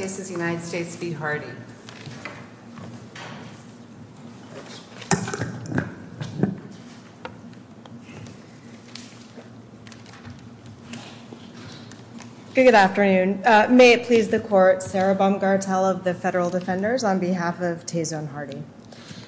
Good afternoon. May it please the court, Sarah Baumgartel of the Federal Defenders on behalf of Tason Hardee.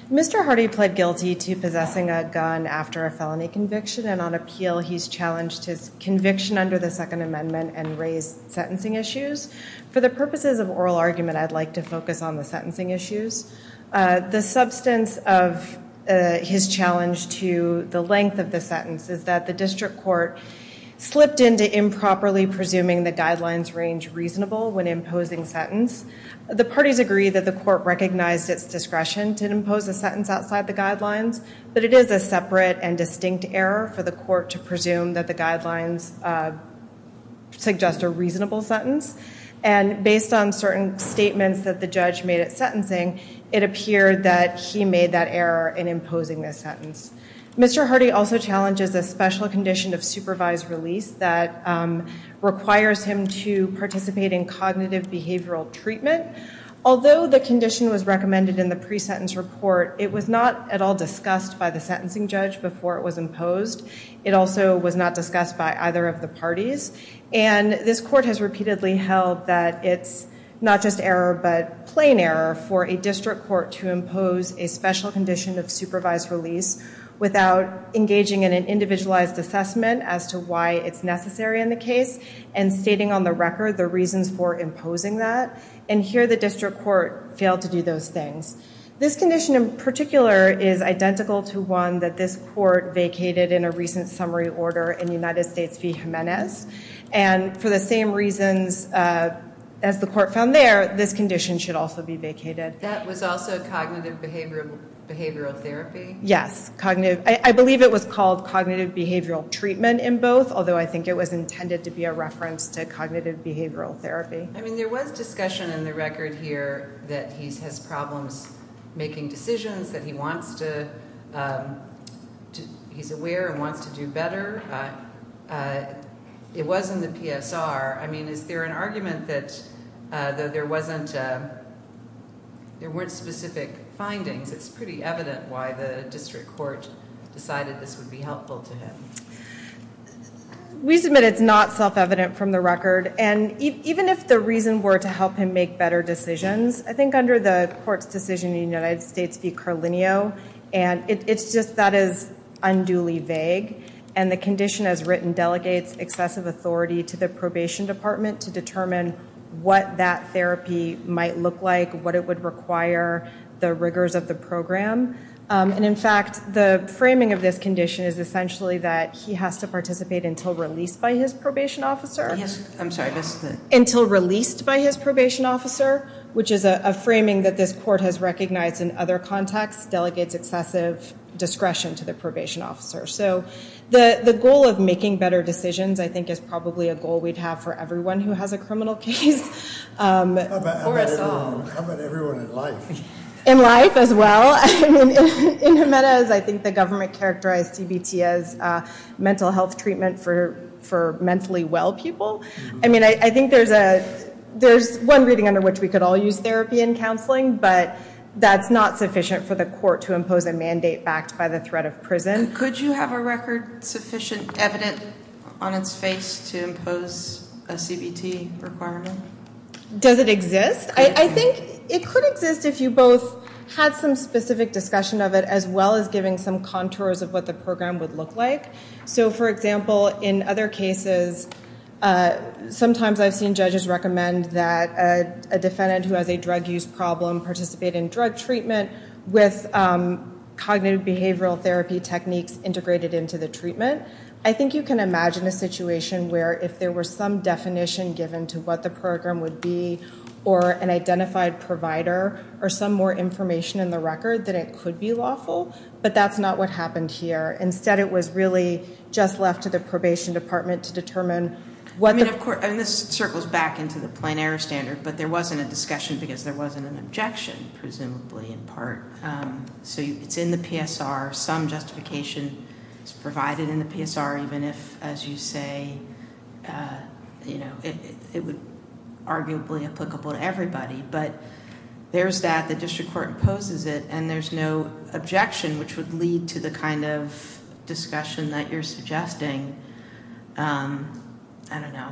Mr. Hardee pled guilty to possessing a gun after a felony conviction and on appeal he's challenged his conviction under the Second Amendment and raised sentencing issues. For the purposes of oral argument I'd like to focus on the sentencing issues. The substance of his challenge to the length of the sentence is that the district court slipped into improperly presuming the guidelines range reasonable when imposing sentence. The parties agree that the court recognized its discretion to impose a sentence outside the guidelines but it is a separate and distinct error for the court to presume that the guidelines suggest a reasonable sentence and based on certain statements that the judge made at sentencing it appeared that he made that error in imposing this sentence. Mr. Hardee also challenges a special condition of supervised release that requires him to participate in cognitive behavioral treatment. Although the condition was recommended in the pre-sentence report it was not at all discussed by the sentencing judge before it was imposed. It also was not discussed by either of the parties and this court has repeatedly held that it's not just error but plain error for a district court to impose a special condition of supervised release without engaging in an individualized assessment as to why it's necessary in the case and stating on the record the reasons for imposing that and here the district court failed to do those things. This condition in particular is identical to one that this court vacated in a recent summary order in the United States v. Jimenez and for the same reasons as the court found there this condition should also be vacated. That was also cognitive behavioral therapy? Yes cognitive I believe it was called cognitive behavioral treatment in both although I think it was intended to be a reference to cognitive behavioral therapy. I mean there was discussion in the record here that he's has problems making decisions that he wants to he's aware and wants to do better. It was in the PSR I mean is there an argument that there wasn't there weren't specific findings it's pretty evident why the district court decided this would be helpful to him. We submit it's not self-evident from the record and even if the reason were to help him make better decisions I think under the court's decision in the United States v. Carlinio and it's just that is unduly vague and the condition as written delegates excessive authority to the probation department to determine what that therapy might look like what it would require the rigors of the program and in fact the framing of this condition is essentially that he has to participate until released by his probation officer. Yes I'm sorry until released by his probation officer which is a framing that this court has recognized in other contexts delegates excessive discretion to the probation officer. So the the goal of making better decisions I think is probably a goal we'd have for everyone who has a criminal case. How about everyone in life? In life as well. In Jimenez I think the government characterized CBT as mental health treatment for for mentally well people. I mean I think there's a there's one reading under which we could all use therapy and counseling but that's not sufficient for the court to impose a mandate backed by the threat of prison. Could you have a record sufficient evident on its face to impose a CBT requirement? Does it exist? I think it could exist if you both had some specific discussion of it as well as giving some contours of what the program would look like. So for example in other cases sometimes I've seen judges recommend that a defendant who has a drug use problem participate in drug treatment with cognitive behavioral therapy techniques integrated into the treatment. I think you can imagine a situation where if there were some definition given to what the program would be or an identified provider or some more information in the record that it could be lawful but that's not what happened here. Instead it was really just left to the probation department to determine. I mean of course and this circles back into the plein air standard but there wasn't a discussion because there wasn't an objection presumably in part. So it's in the PSR some justification is provided in the PSR even if as you say you know it would arguably applicable to everybody but there's that the district court imposes it and there's no objection which would lead to the kind of discussion that you're suggesting. I don't know.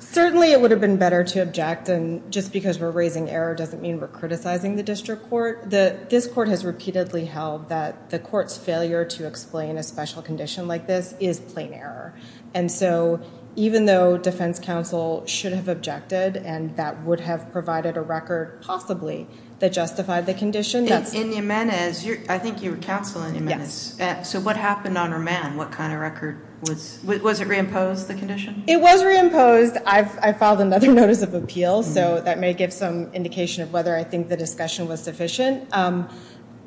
Certainly it would have been better to object and just because we're raising error doesn't mean we're criticizing the district court. This court has repeatedly held that the court's failure to explain a special condition like this is plain error and so even though defense counsel should have objected and that would have provided a record possibly that justified the condition. In Jimenez, I think you were counsel in Jimenez. So what happened on remand? What kind of record was it? Was it reimposed the condition? It was reimposed. I filed another notice of appeal so that may give some indication of whether I think the discussion was sufficient.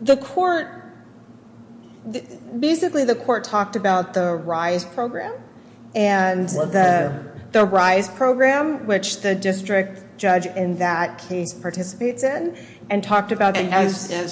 The court, basically the court talked about the RISE program and the RISE program which the district judge in that case participates in and talked about the use of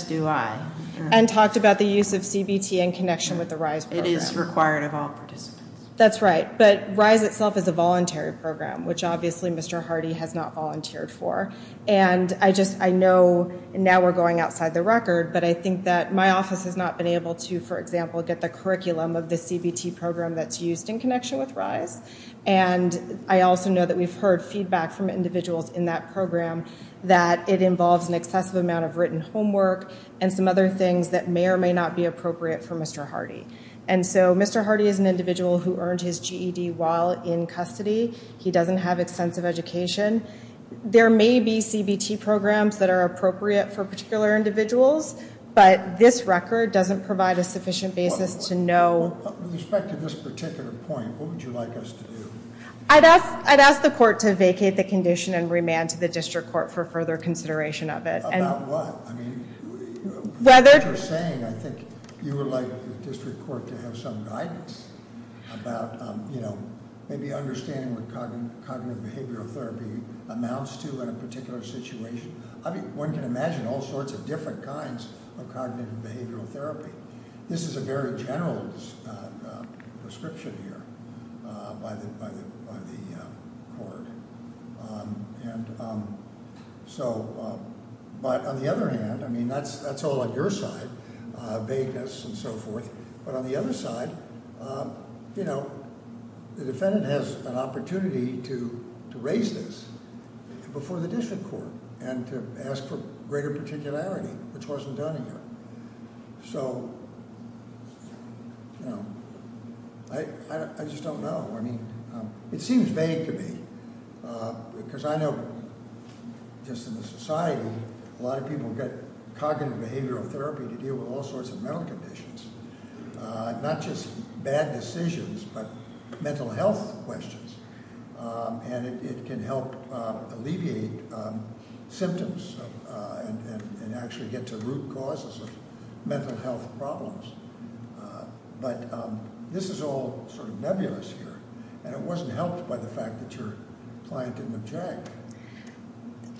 CBT in connection with the RISE program. It is required of all participants. That's right but RISE itself is a voluntary program which obviously Mr. Hardy has not volunteered for and I just I know now we're going outside the record but I think that my office has not been able to for example get the curriculum of the CBT program that's used in connection with RISE and I also know that we've heard feedback from individuals in that program that it involves an excessive amount of written homework and some other things that may or may not be appropriate for Mr. Hardy and so Mr. Hardy is an individual who earned his GED while in custody. He doesn't have extensive education. There may be CBT programs that are appropriate for particular individuals but this record doesn't provide a sufficient basis to know. With respect to this particular point, what would you like us to do? I'd ask the court to vacate the condition and remand to the district court for further consideration of it. About what? I mean what you're saying I think you would like the district court to have some guidance about you know maybe understanding what cognitive behavioral therapy amounts to in a particular situation. I mean one can imagine all sorts of different kinds of cognitive behavioral therapy. This is a very general prescription here by the court and so but on the other hand I mean that's all on your side vagueness and so forth but on the other side you know the defendant has an opportunity to raise this before the district court and to ask for greater particularity which wasn't done here. So I just don't know. I mean it seems vague to me because I know just in the society a lot of people get cognitive behavioral therapy to deal with all sorts of mental conditions. Not just bad decisions but mental health questions and it can help alleviate symptoms and actually get to root causes of mental health problems. But this is all sort of nebulous here and it wasn't helped by the fact that your client didn't object.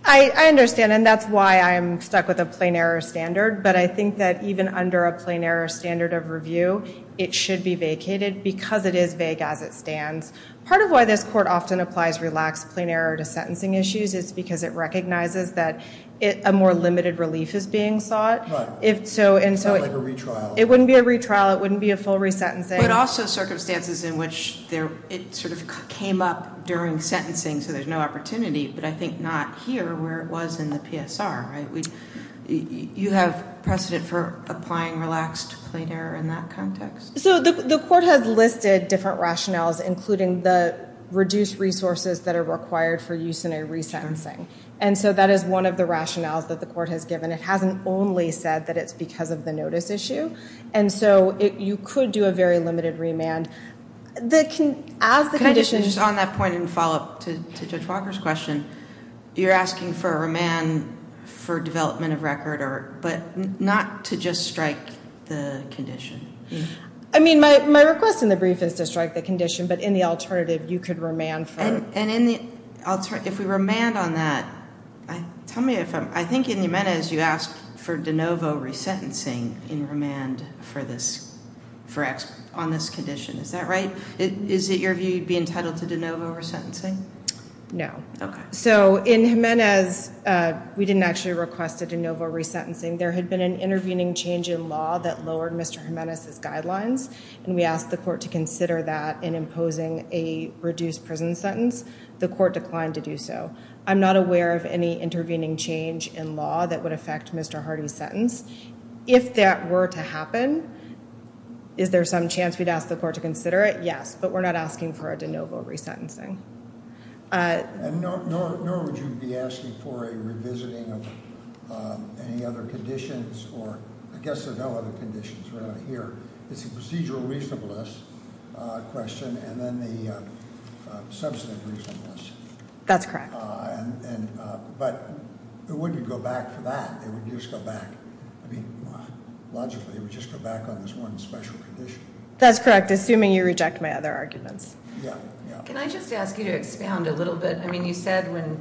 I understand and that's why I'm stuck with a plain error standard but I think that even under a plain error standard of review it should be vacated because it is vague as it stands. Part of why this court often applies relaxed plain error to sentencing issues is because it recognizes that a more limited relief is being sought. It's not like a retrial. It wouldn't be a retrial. It wouldn't be a full resentencing. But also circumstances in which it sort of came up during sentencing so there's no opportunity but I think not here where it was in the PSR. You have precedent for applying relaxed plain error in that context? So the court has listed different rationales including the reduced resources that are required for use in a resentencing and so that is one of the rationales that the court has given. It hasn't only said that it's because of the notice issue. And so you could do a very limited remand. Can I just on that point and follow up to Judge Walker's question. You're asking for a remand for development of record but not to just strike the condition? I mean my request in the brief is to strike the condition but in the alternative you could remand for... And if we remand on that, I think in Jimenez you asked for de novo resentencing in remand on this condition. Is that right? Is it your view you'd be entitled to de novo resentencing? No. So in Jimenez we didn't actually request a de novo resentencing. There had been an intervening change in law that lowered Mr. Jimenez's guidelines and we asked the court to consider that in imposing a reduced prison sentence. The court declined to do so. I'm not aware of any intervening change in law that would affect Mr. Hardy's sentence. If that were to happen, is there some chance we'd ask the court to consider it? Yes. But we're not asking for a de novo resentencing. And nor would you be asking for a revisiting of any other conditions or I guess there are no other conditions around here. It's a procedural reasonableness question and then the substantive reasonableness. That's correct. But it wouldn't go back for that. Logically it would just go back on this one special condition. That's correct, assuming you reject my other arguments. Can I just ask you to expound a little bit? You said when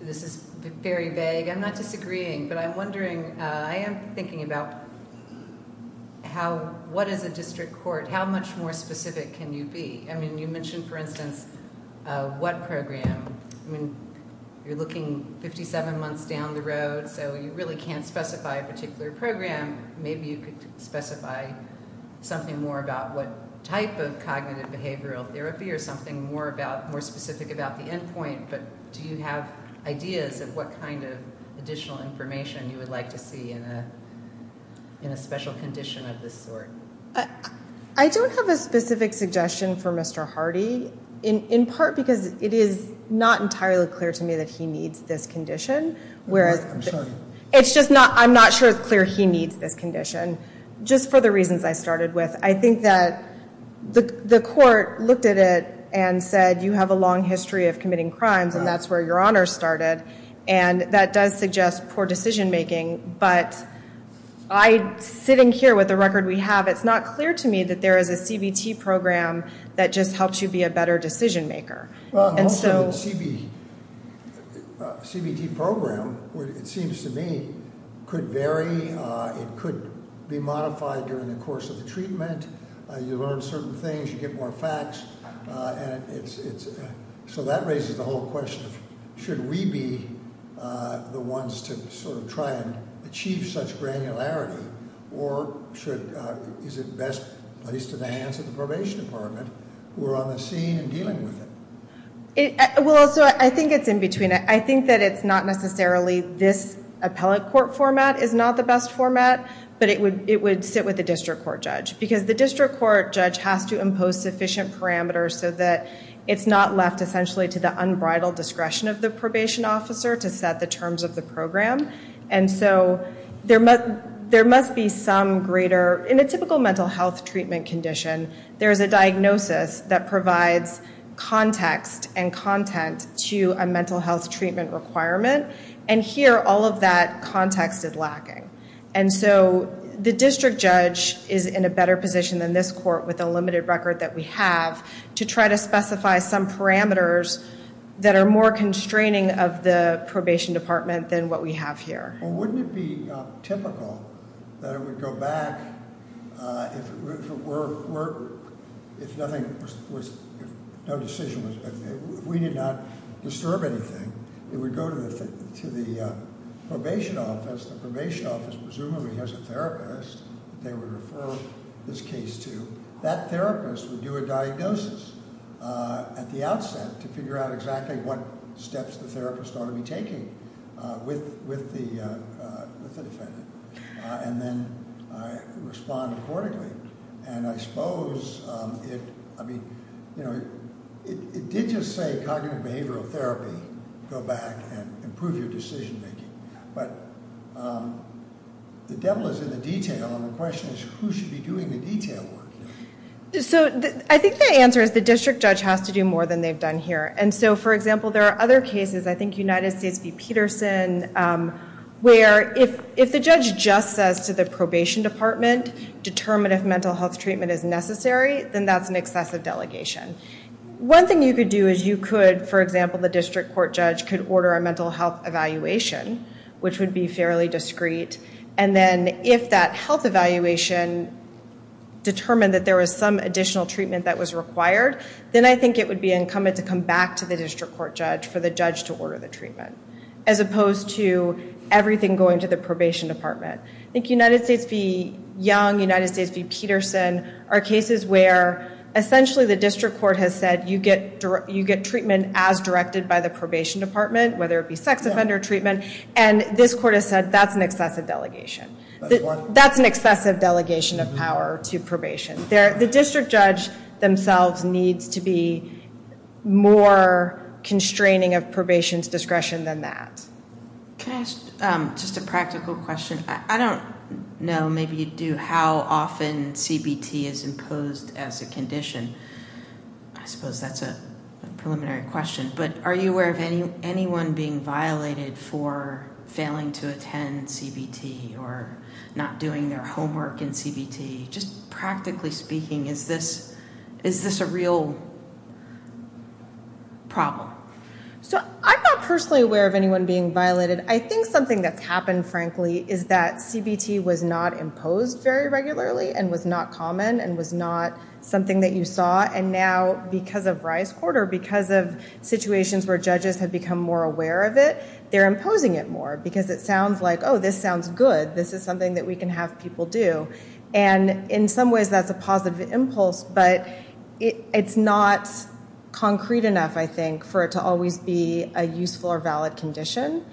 this is very vague, I'm not disagreeing, but I'm wondering, I am thinking about what is a district court? How much more specific can you be? You mentioned, for instance, what program? I mean, you're looking 57 months down the road, so you really can't specify a particular program. Maybe you could specify something more about what type of cognitive behavioral therapy or something more specific about the end point. But do you have ideas of what kind of additional information you would like to see in a special condition of this sort? I don't have a specific suggestion for Mr. Hardy, in part because it is not entirely clear to me that he needs this condition. I'm sorry. I'm not sure it's clear he needs this condition. Just for the reasons I started with. I think that the court looked at it and said, you have a long history of committing crimes and that's where your honors started. And that does suggest poor decision making, but sitting here with the record we have, it's not clear to me that there is a CBT program that just helps you be a better decision maker. Also, CBT program, it seems to me, could vary. It could be modified during the course of the treatment. You learn certain things. You get more facts. So that raises the whole question of should we be the ones to sort of try and achieve such granularity or is it best, at least in the hands of the probation department, who are on the scene and dealing with it? Well, so I think it's in between. I think that it's not necessarily this appellate court format is not the best format, but it would sit with the district court judge. Because the district court judge has to impose sufficient parameters so that it's not left essentially to the unbridled discretion of the probation officer to set the terms of the program. And so there must be some greater, in a typical mental health treatment condition, there is a diagnosis that provides context and content to a mental health treatment requirement. And here, all of that context is lacking. And so the district judge is in a better position than this court with the limited record that we have to try to specify some parameters that are more constraining of the probation department than what we have here. Well, wouldn't it be typical that it would go back if nothing was, if no decision was, if we did not disturb anything, it would go to the probation office. The probation office presumably has a therapist that they would refer this case to. That therapist would do a diagnosis at the outset to figure out exactly what steps the therapist ought to be taking with the defendant. And then respond accordingly. And I suppose it, I mean, you know, it did just say cognitive behavioral therapy, go back and improve your decision making. But the devil is in the detail. And the question is who should be doing the detail work? So I think the answer is the district judge has to do more than they've done here. And so, for example, there are other cases, I think United States v. Peterson, where if the judge just says to the probation department, determine if mental health treatment is necessary, then that's an excessive delegation. One thing you could do is you could, for example, the district court judge could order a mental health evaluation, which would be fairly discreet. And then if that health evaluation determined that there was some additional treatment that was required, then I think it would be incumbent to come back to the district court judge for the judge to order the treatment, as opposed to everything going to the probation department. I think United States v. Young, United States v. Peterson are cases where essentially the district court has said you get treatment as directed by the probation department, whether it be sex offender treatment. And this court has said that's an excessive delegation. That's an excessive delegation of power to probation. The district judge themselves needs to be more constraining of probation's discretion than that. Can I ask just a practical question? I don't know, maybe you do, how often CBT is imposed as a condition. I suppose that's a preliminary question, but are you aware of anyone being violated for failing to attend CBT or not doing their homework in CBT? Just practically speaking, is this a real problem? So I'm not personally aware of anyone being violated. I think something that's happened, frankly, is that CBT was not imposed very regularly and was not common and was not something that you saw. And now because of Rice Court or because of situations where judges have become more aware of it, they're imposing it more. Because it sounds like, oh, this sounds good. This is something that we can have people do. And in some ways, that's a positive impulse. But it's not concrete enough, I think, for it to always be a useful or valid condition.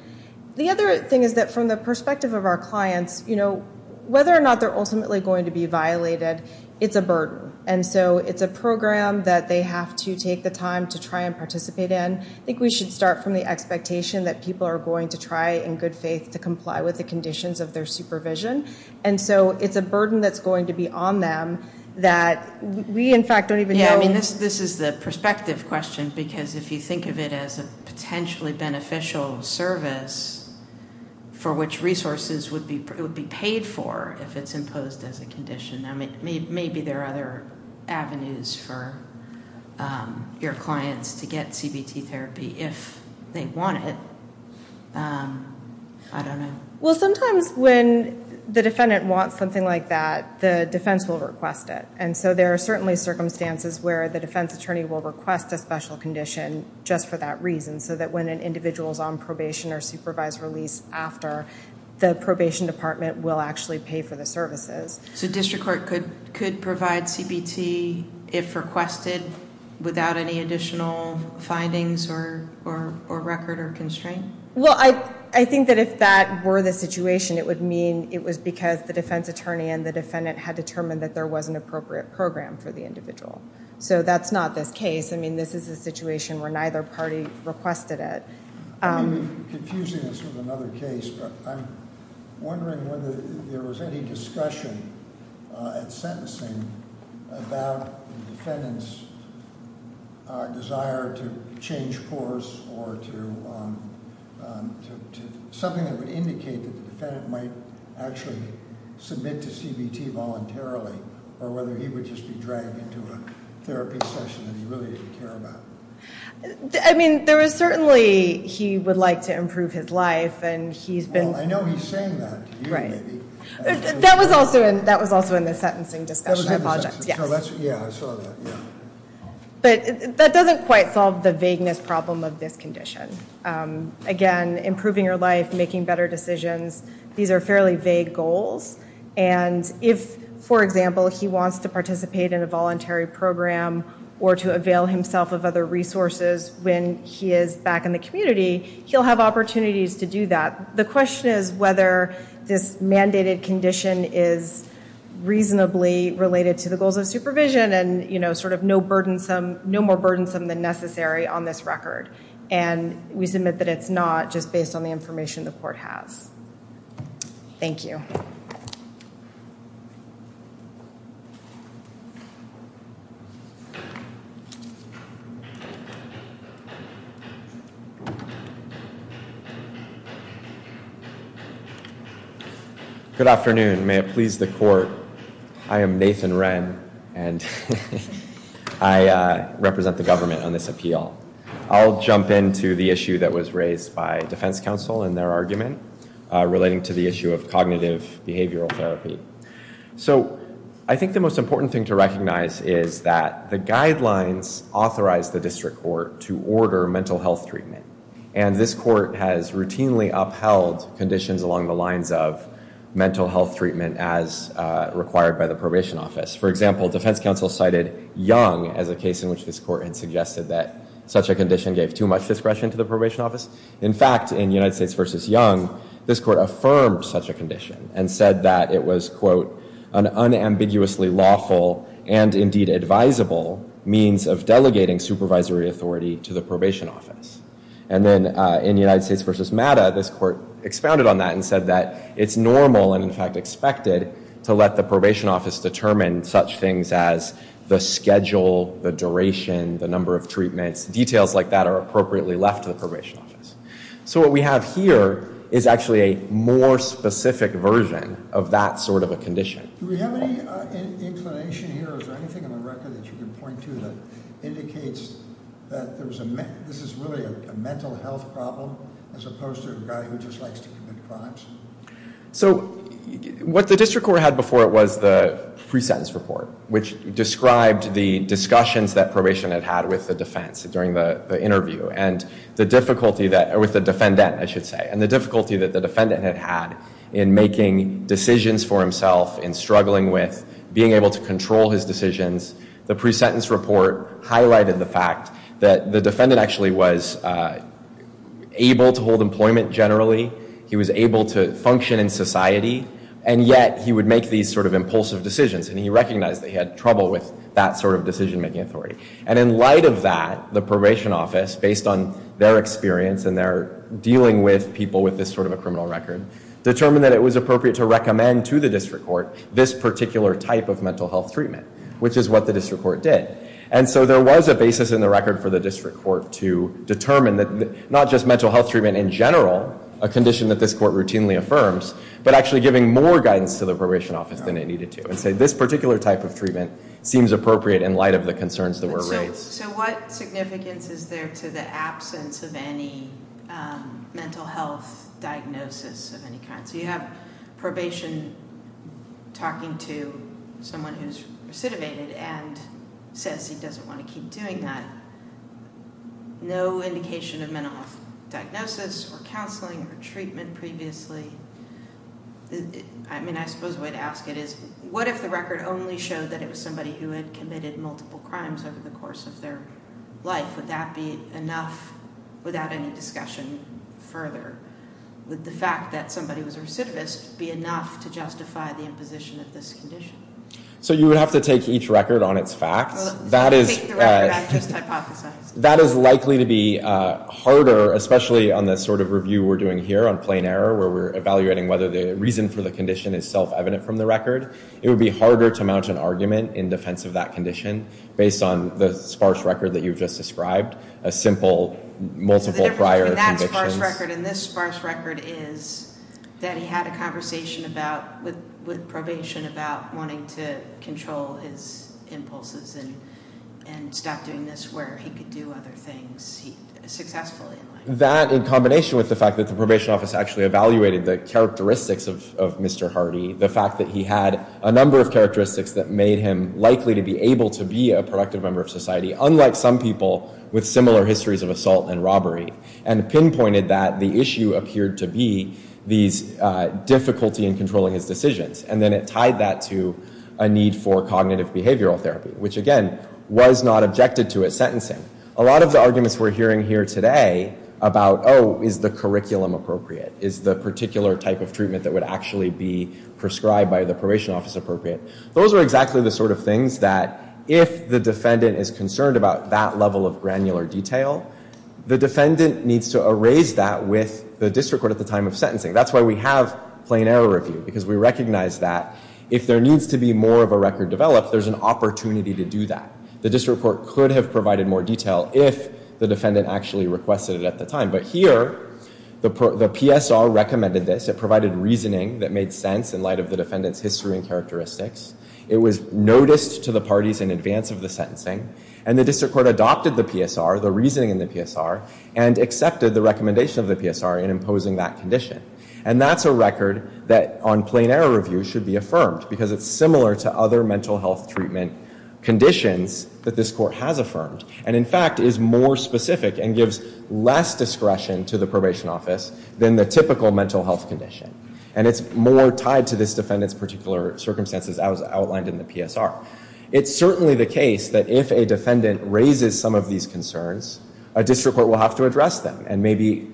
The other thing is that from the perspective of our clients, whether or not they're ultimately going to be violated, it's a burden. And so it's a program that they have to take the time to try and participate in. I think we should start from the expectation that people are going to try in good faith to comply with the conditions of their supervision. And so it's a burden that's going to be on them that we, in fact, don't even know. This is the perspective question, because if you think of it as a potentially beneficial service for which resources would be paid for if it's imposed as a condition, maybe there are other avenues for your clients to get CBT therapy if they want it. I don't know. Well, sometimes when the defendant wants something like that, the defense will request it. And so there are certainly circumstances where the defense attorney will request a special condition just for that reason, so that when an individual is on probation or supervised release after, the probation department will actually pay for the services. So district court could provide CBT if requested without any additional findings or record or constraint? Well, I think that if that were the situation, it would mean it was because the defense attorney and the defendant had determined that there was an appropriate program for the individual. So that's not this case. I mean, this is a situation where neither party requested it. You're confusing us with another case, but I'm wondering whether there was any discussion at sentencing about the defendant's desire to change course or to something that would indicate that the defendant might actually submit to CBT voluntarily, or whether he would just be dragged into a therapy session that he really didn't care about. I mean, there was certainly he would like to improve his life, and he's been- Well, I know he's saying that. That was also in the sentencing discussion. I apologize. Yeah, I saw that. But that doesn't quite solve the vagueness problem of this condition. Again, improving your life, making better decisions, these are fairly vague goals. And if, for example, he wants to participate in a voluntary program or to avail himself of other resources when he is back in the community, he'll have opportunities to do that. The question is whether this mandated condition is reasonably related to the goals of supervision and sort of no more burdensome than necessary on this record. And we submit that it's not, just based on the information the court has. Thank you. Good afternoon. May it please the court. I am Nathan Wren, and I represent the government on this appeal. I'll jump into the issue that was raised by defense counsel in their argument relating to the issue of cognitive behavioral therapy. So, I think the most important thing to recognize is that the guidelines authorized the district court to order mental health treatment. And this court has routinely upheld conditions along the lines of mental health treatment as required by the probation office. For example, defense counsel cited Young as a case in which this court had suggested that such a condition gave too much discretion to the probation office. In fact, in United States v. Young, this court affirmed such a condition and said that it was, quote, an unambiguously lawful and indeed advisable means of delegating supervisory authority to the probation office. And then in United States v. MATA, this court expounded on that and said that it's normal, and in fact expected, to let the probation office determine such things as the schedule, the duration, the number of treatments, details like that are appropriately left to the probation office. So what we have here is actually a more specific version of that sort of a condition. Do we have any explanation here? Is there anything on the record that you can point to that indicates that this is really a mental health problem as opposed to a guy who just likes to commit crimes? So what the district court had before it was the pre-sentence report which described the discussions that probation had had with the defense during the interview and the difficulty that, or with the defendant I should say, and the difficulty that the defendant had had in making decisions for himself in struggling with being able to control his decisions. The pre-sentence report highlighted the fact that the defendant actually was able to hold employment generally, he was able to function in society, and yet he would make these sort of impulsive decisions and he recognized that he had trouble with that sort of decision-making authority. And in light of that, the probation office, based on their experience and their dealing with people with this sort of a criminal record, determined that it was appropriate to recommend to the district court this particular type of mental health treatment, which is what the district court did. And so there was a basis in the record for the district court to determine that not just mental health treatment in general a condition that this court routinely affirms, but actually giving more guidance to the probation office than it needed to, and say this particular type of treatment seems appropriate in light of the concerns that were raised. So what significance is there to the absence of any mental health diagnosis of any kind? So you have probation talking to someone who's recidivated and says he doesn't want to keep doing that. No indication of mental health diagnosis or counseling or treatment previously. I suppose the way to ask it is, what if the record only showed that it was somebody who had committed multiple crimes over the course of their life? Would that be enough without any discussion further? Would the fact that somebody was a recidivist be enough to justify the imposition of this condition? So you would have to take each record on its facts. That is likely to be harder, especially on the sort of review we're doing here on plain error, where we're evaluating whether the reason for the condition is self-evident from the record. It would be harder to mount an argument in defense of that condition based on the sparse record that you've just described. A simple multiple prior convictions. So the difference between that sparse record and this sparse record is that he had a conversation with probation about wanting to control his impulses and stop doing this where he could do other things successfully. That in combination with the fact that the probation office actually evaluated the characteristics of Mr. Hardy, the fact that he had a number of characteristics that made him likely to be able to be a productive member of society, unlike some people with similar histories of assault and robbery, and pinpointed that the issue appeared to be these difficulty in controlling his decisions. And then it tied that to a need for cognitive behavioral therapy, which again was not objected to at sentencing. A lot of the arguments we're hearing here today about, oh, is the curriculum appropriate? Is the particular type of treatment that would actually be prescribed by the probation office appropriate? Those are exactly the sort of things that if the defendant is concerned about that level of granular detail, the defendant needs to erase that with the district court at the time of sentencing. That's why we have plain error review, because we recognize that if there needs to be more of a record developed, there's an opportunity to do that. The district court could have provided more detail if the defendant actually requested it at the time. But here, the PSR recommended this. It provided reasoning that made sense in light of the defendant's history and characteristics. It was noticed to the parties in advance of the sentencing. And the district court adopted the PSR, the reasoning in the PSR, and accepted the recommendation of the PSR in imposing that condition. And that's a record that on plain error review should be affirmed, because it's similar to other mental health treatment conditions that this court has affirmed. And in fact, is more specific and gives less discretion to the probation office than the typical mental health condition. And it's more tied to this defendant's particular circumstances as outlined in the PSR. It's certainly the case that if a defendant raises some of these concerns, a district court will have to address them and maybe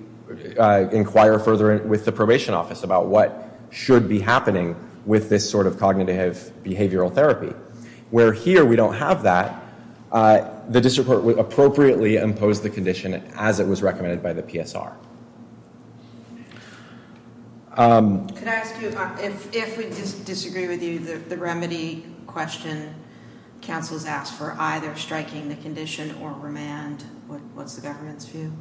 inquire further with the probation office about what should be happening with this sort of cognitive behavioral therapy. Where here we don't have that, the district court would appropriately impose the condition as it was recommended by the PSR. Could I ask you, if we disagree with you, the remedy question counsel has asked for either striking the condition or remand, what's the government's view?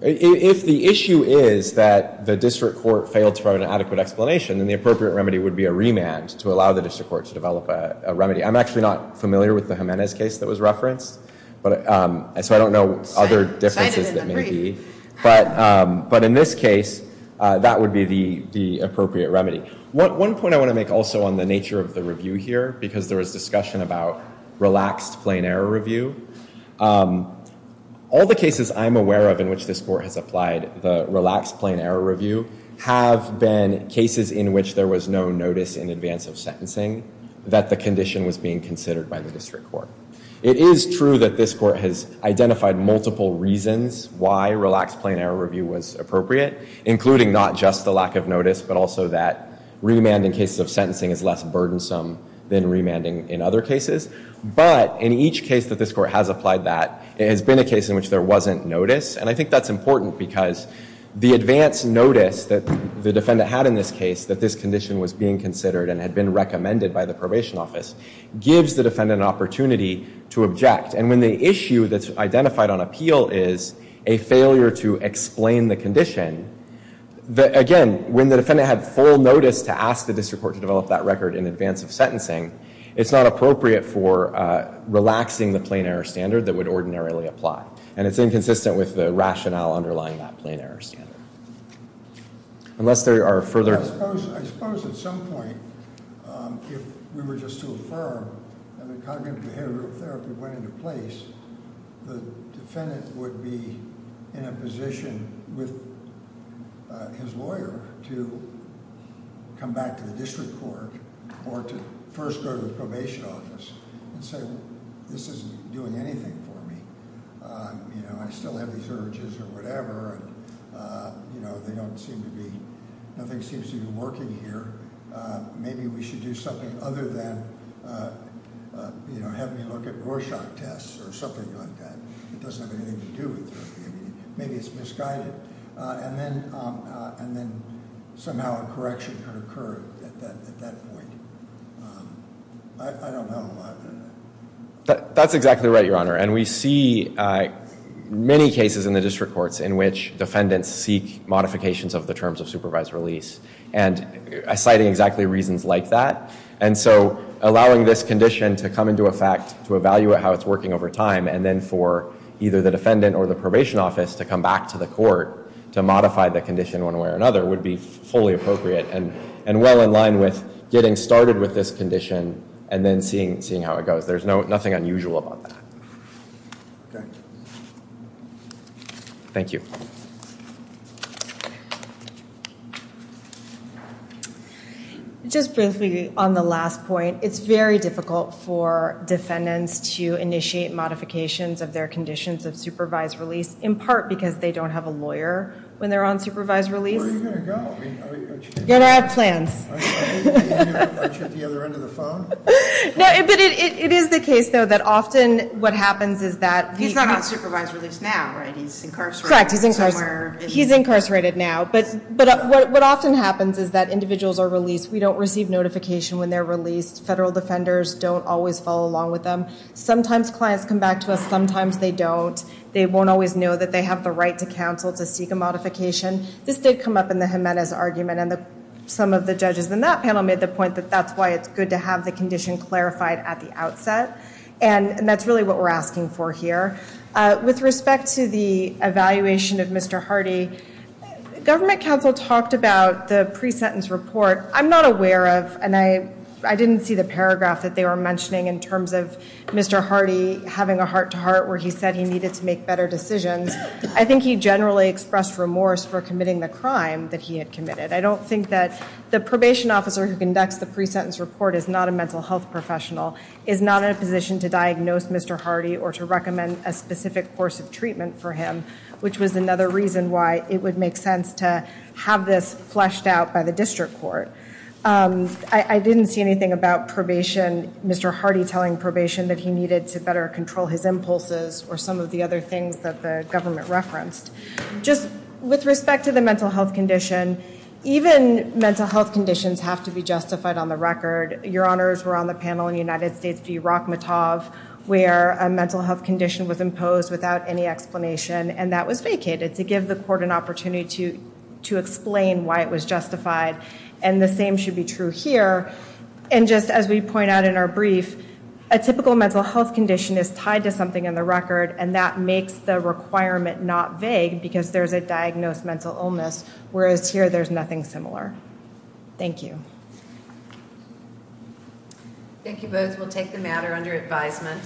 If the issue is that the district court failed to provide an adequate explanation, then the appropriate remedy would be a remand to allow the district court to develop a remedy. I'm actually not familiar with the Jimenez case that was referenced. So I don't know other differences that may be. But in this case, that would be the appropriate remedy. One point I want to make also on the nature of the review here, because there was a discussion about relaxed plain error review. All the cases I'm aware of in which this court has applied the relaxed plain error review have been cases in which there was no notice in advance of sentencing that the condition was being considered by the district court. It is true that this court has identified multiple reasons why relaxed plain error review was appropriate, including not just the lack of notice, but also that remand in cases of sentencing is less burdensome than remanding in other cases. But in each case that this court has applied that, it has been a case in which there wasn't notice. And I think that's important because the advance notice that the defendant had in this case, that this condition was being considered and had been recommended by the probation office, gives the defendant an opportunity to object. And when the issue that's identified on appeal is a failure to explain the condition, again, when the defendant had full notice to ask the district court to develop that record in advance of sentencing, it's not appropriate for relaxing the plain error standard that would ordinarily apply. And it's inconsistent with the rationale underlying that plain error standard. Unless there are further... I suppose at some point if we were just to affirm that a cognitive behavioral therapy went into place, the defendant would be in a position with his lawyer to come back to the district court or to first go to the probation office and say, this isn't doing anything for me. I still have these urges or whatever and they don't seem to be... nothing seems to be working here. Maybe we should do something other than have me look at Rorschach tests or something like that. It doesn't have anything to do with therapy. Maybe it's misguided. And then somehow a correction could occur at that point. I don't know. That's exactly right, Your Honor. And we see many cases in the district courts in which defendants seek modifications of the terms of supervised release and citing exactly reasons like that. And so allowing this condition to come into effect to evaluate how it's working over time and then for either the defendant or the court to modify the condition one way or another would be fully appropriate and well in line with getting started with this condition and then seeing how it goes. There's nothing unusual about that. Thank you. Just briefly on the last point, it's very difficult for defendants to initiate modifications of their conditions of supervised release in part because they don't have a lawyer when they're on supervised release. Where are you going to go? You don't have plans. The other end of the phone? No, but it is the case though that often what happens is that... He's not on supervised release now, right? He's incarcerated. Correct. He's incarcerated now. But what often happens is that individuals are released. We don't receive notification when they're released. Federal defenders don't always follow along with them. Sometimes clients come back to us. Sometimes they don't. They won't always know that they have the right to counsel to seek a modification. This did come up in the Jimenez argument and some of the judges in that panel made the point that that's why it's good to have the condition clarified at the outset and that's really what we're asking for here. With respect to the evaluation of Mr. Hardy, government counsel talked about the pre-sentence report. I'm not aware of and I didn't see the paragraph that they were mentioning in terms of Mr. Hardy having a heart-to-heart where he said he needed to make better decisions. I think he generally expressed remorse for committing the crime that he had committed. I don't think that the probation officer who conducts the pre-sentence report is not a mental health professional, is not in a position to diagnose Mr. Hardy or to recommend a specific course of treatment for him, which was another reason why it would make sense to have this fleshed out by the district court. I didn't see anything about probation, Mr. Hardy telling probation that he needed to better control his impulses or some of the other things that the government referenced. With respect to the mental health condition, even mental health conditions have to be justified on the record. Your Honors were on the panel in the United States v. Rachmatov where a mental health condition was imposed without any explanation and that was vacated to give the court an opportunity to explain why it was justified and the same should be true here. As we point out in our brief, a typical mental health condition is tied to something on the record and that makes the requirement not vague because there's a diagnosed mental illness, whereas here there's nothing similar. Thank you. Thank you both. We'll take the matter under advisement.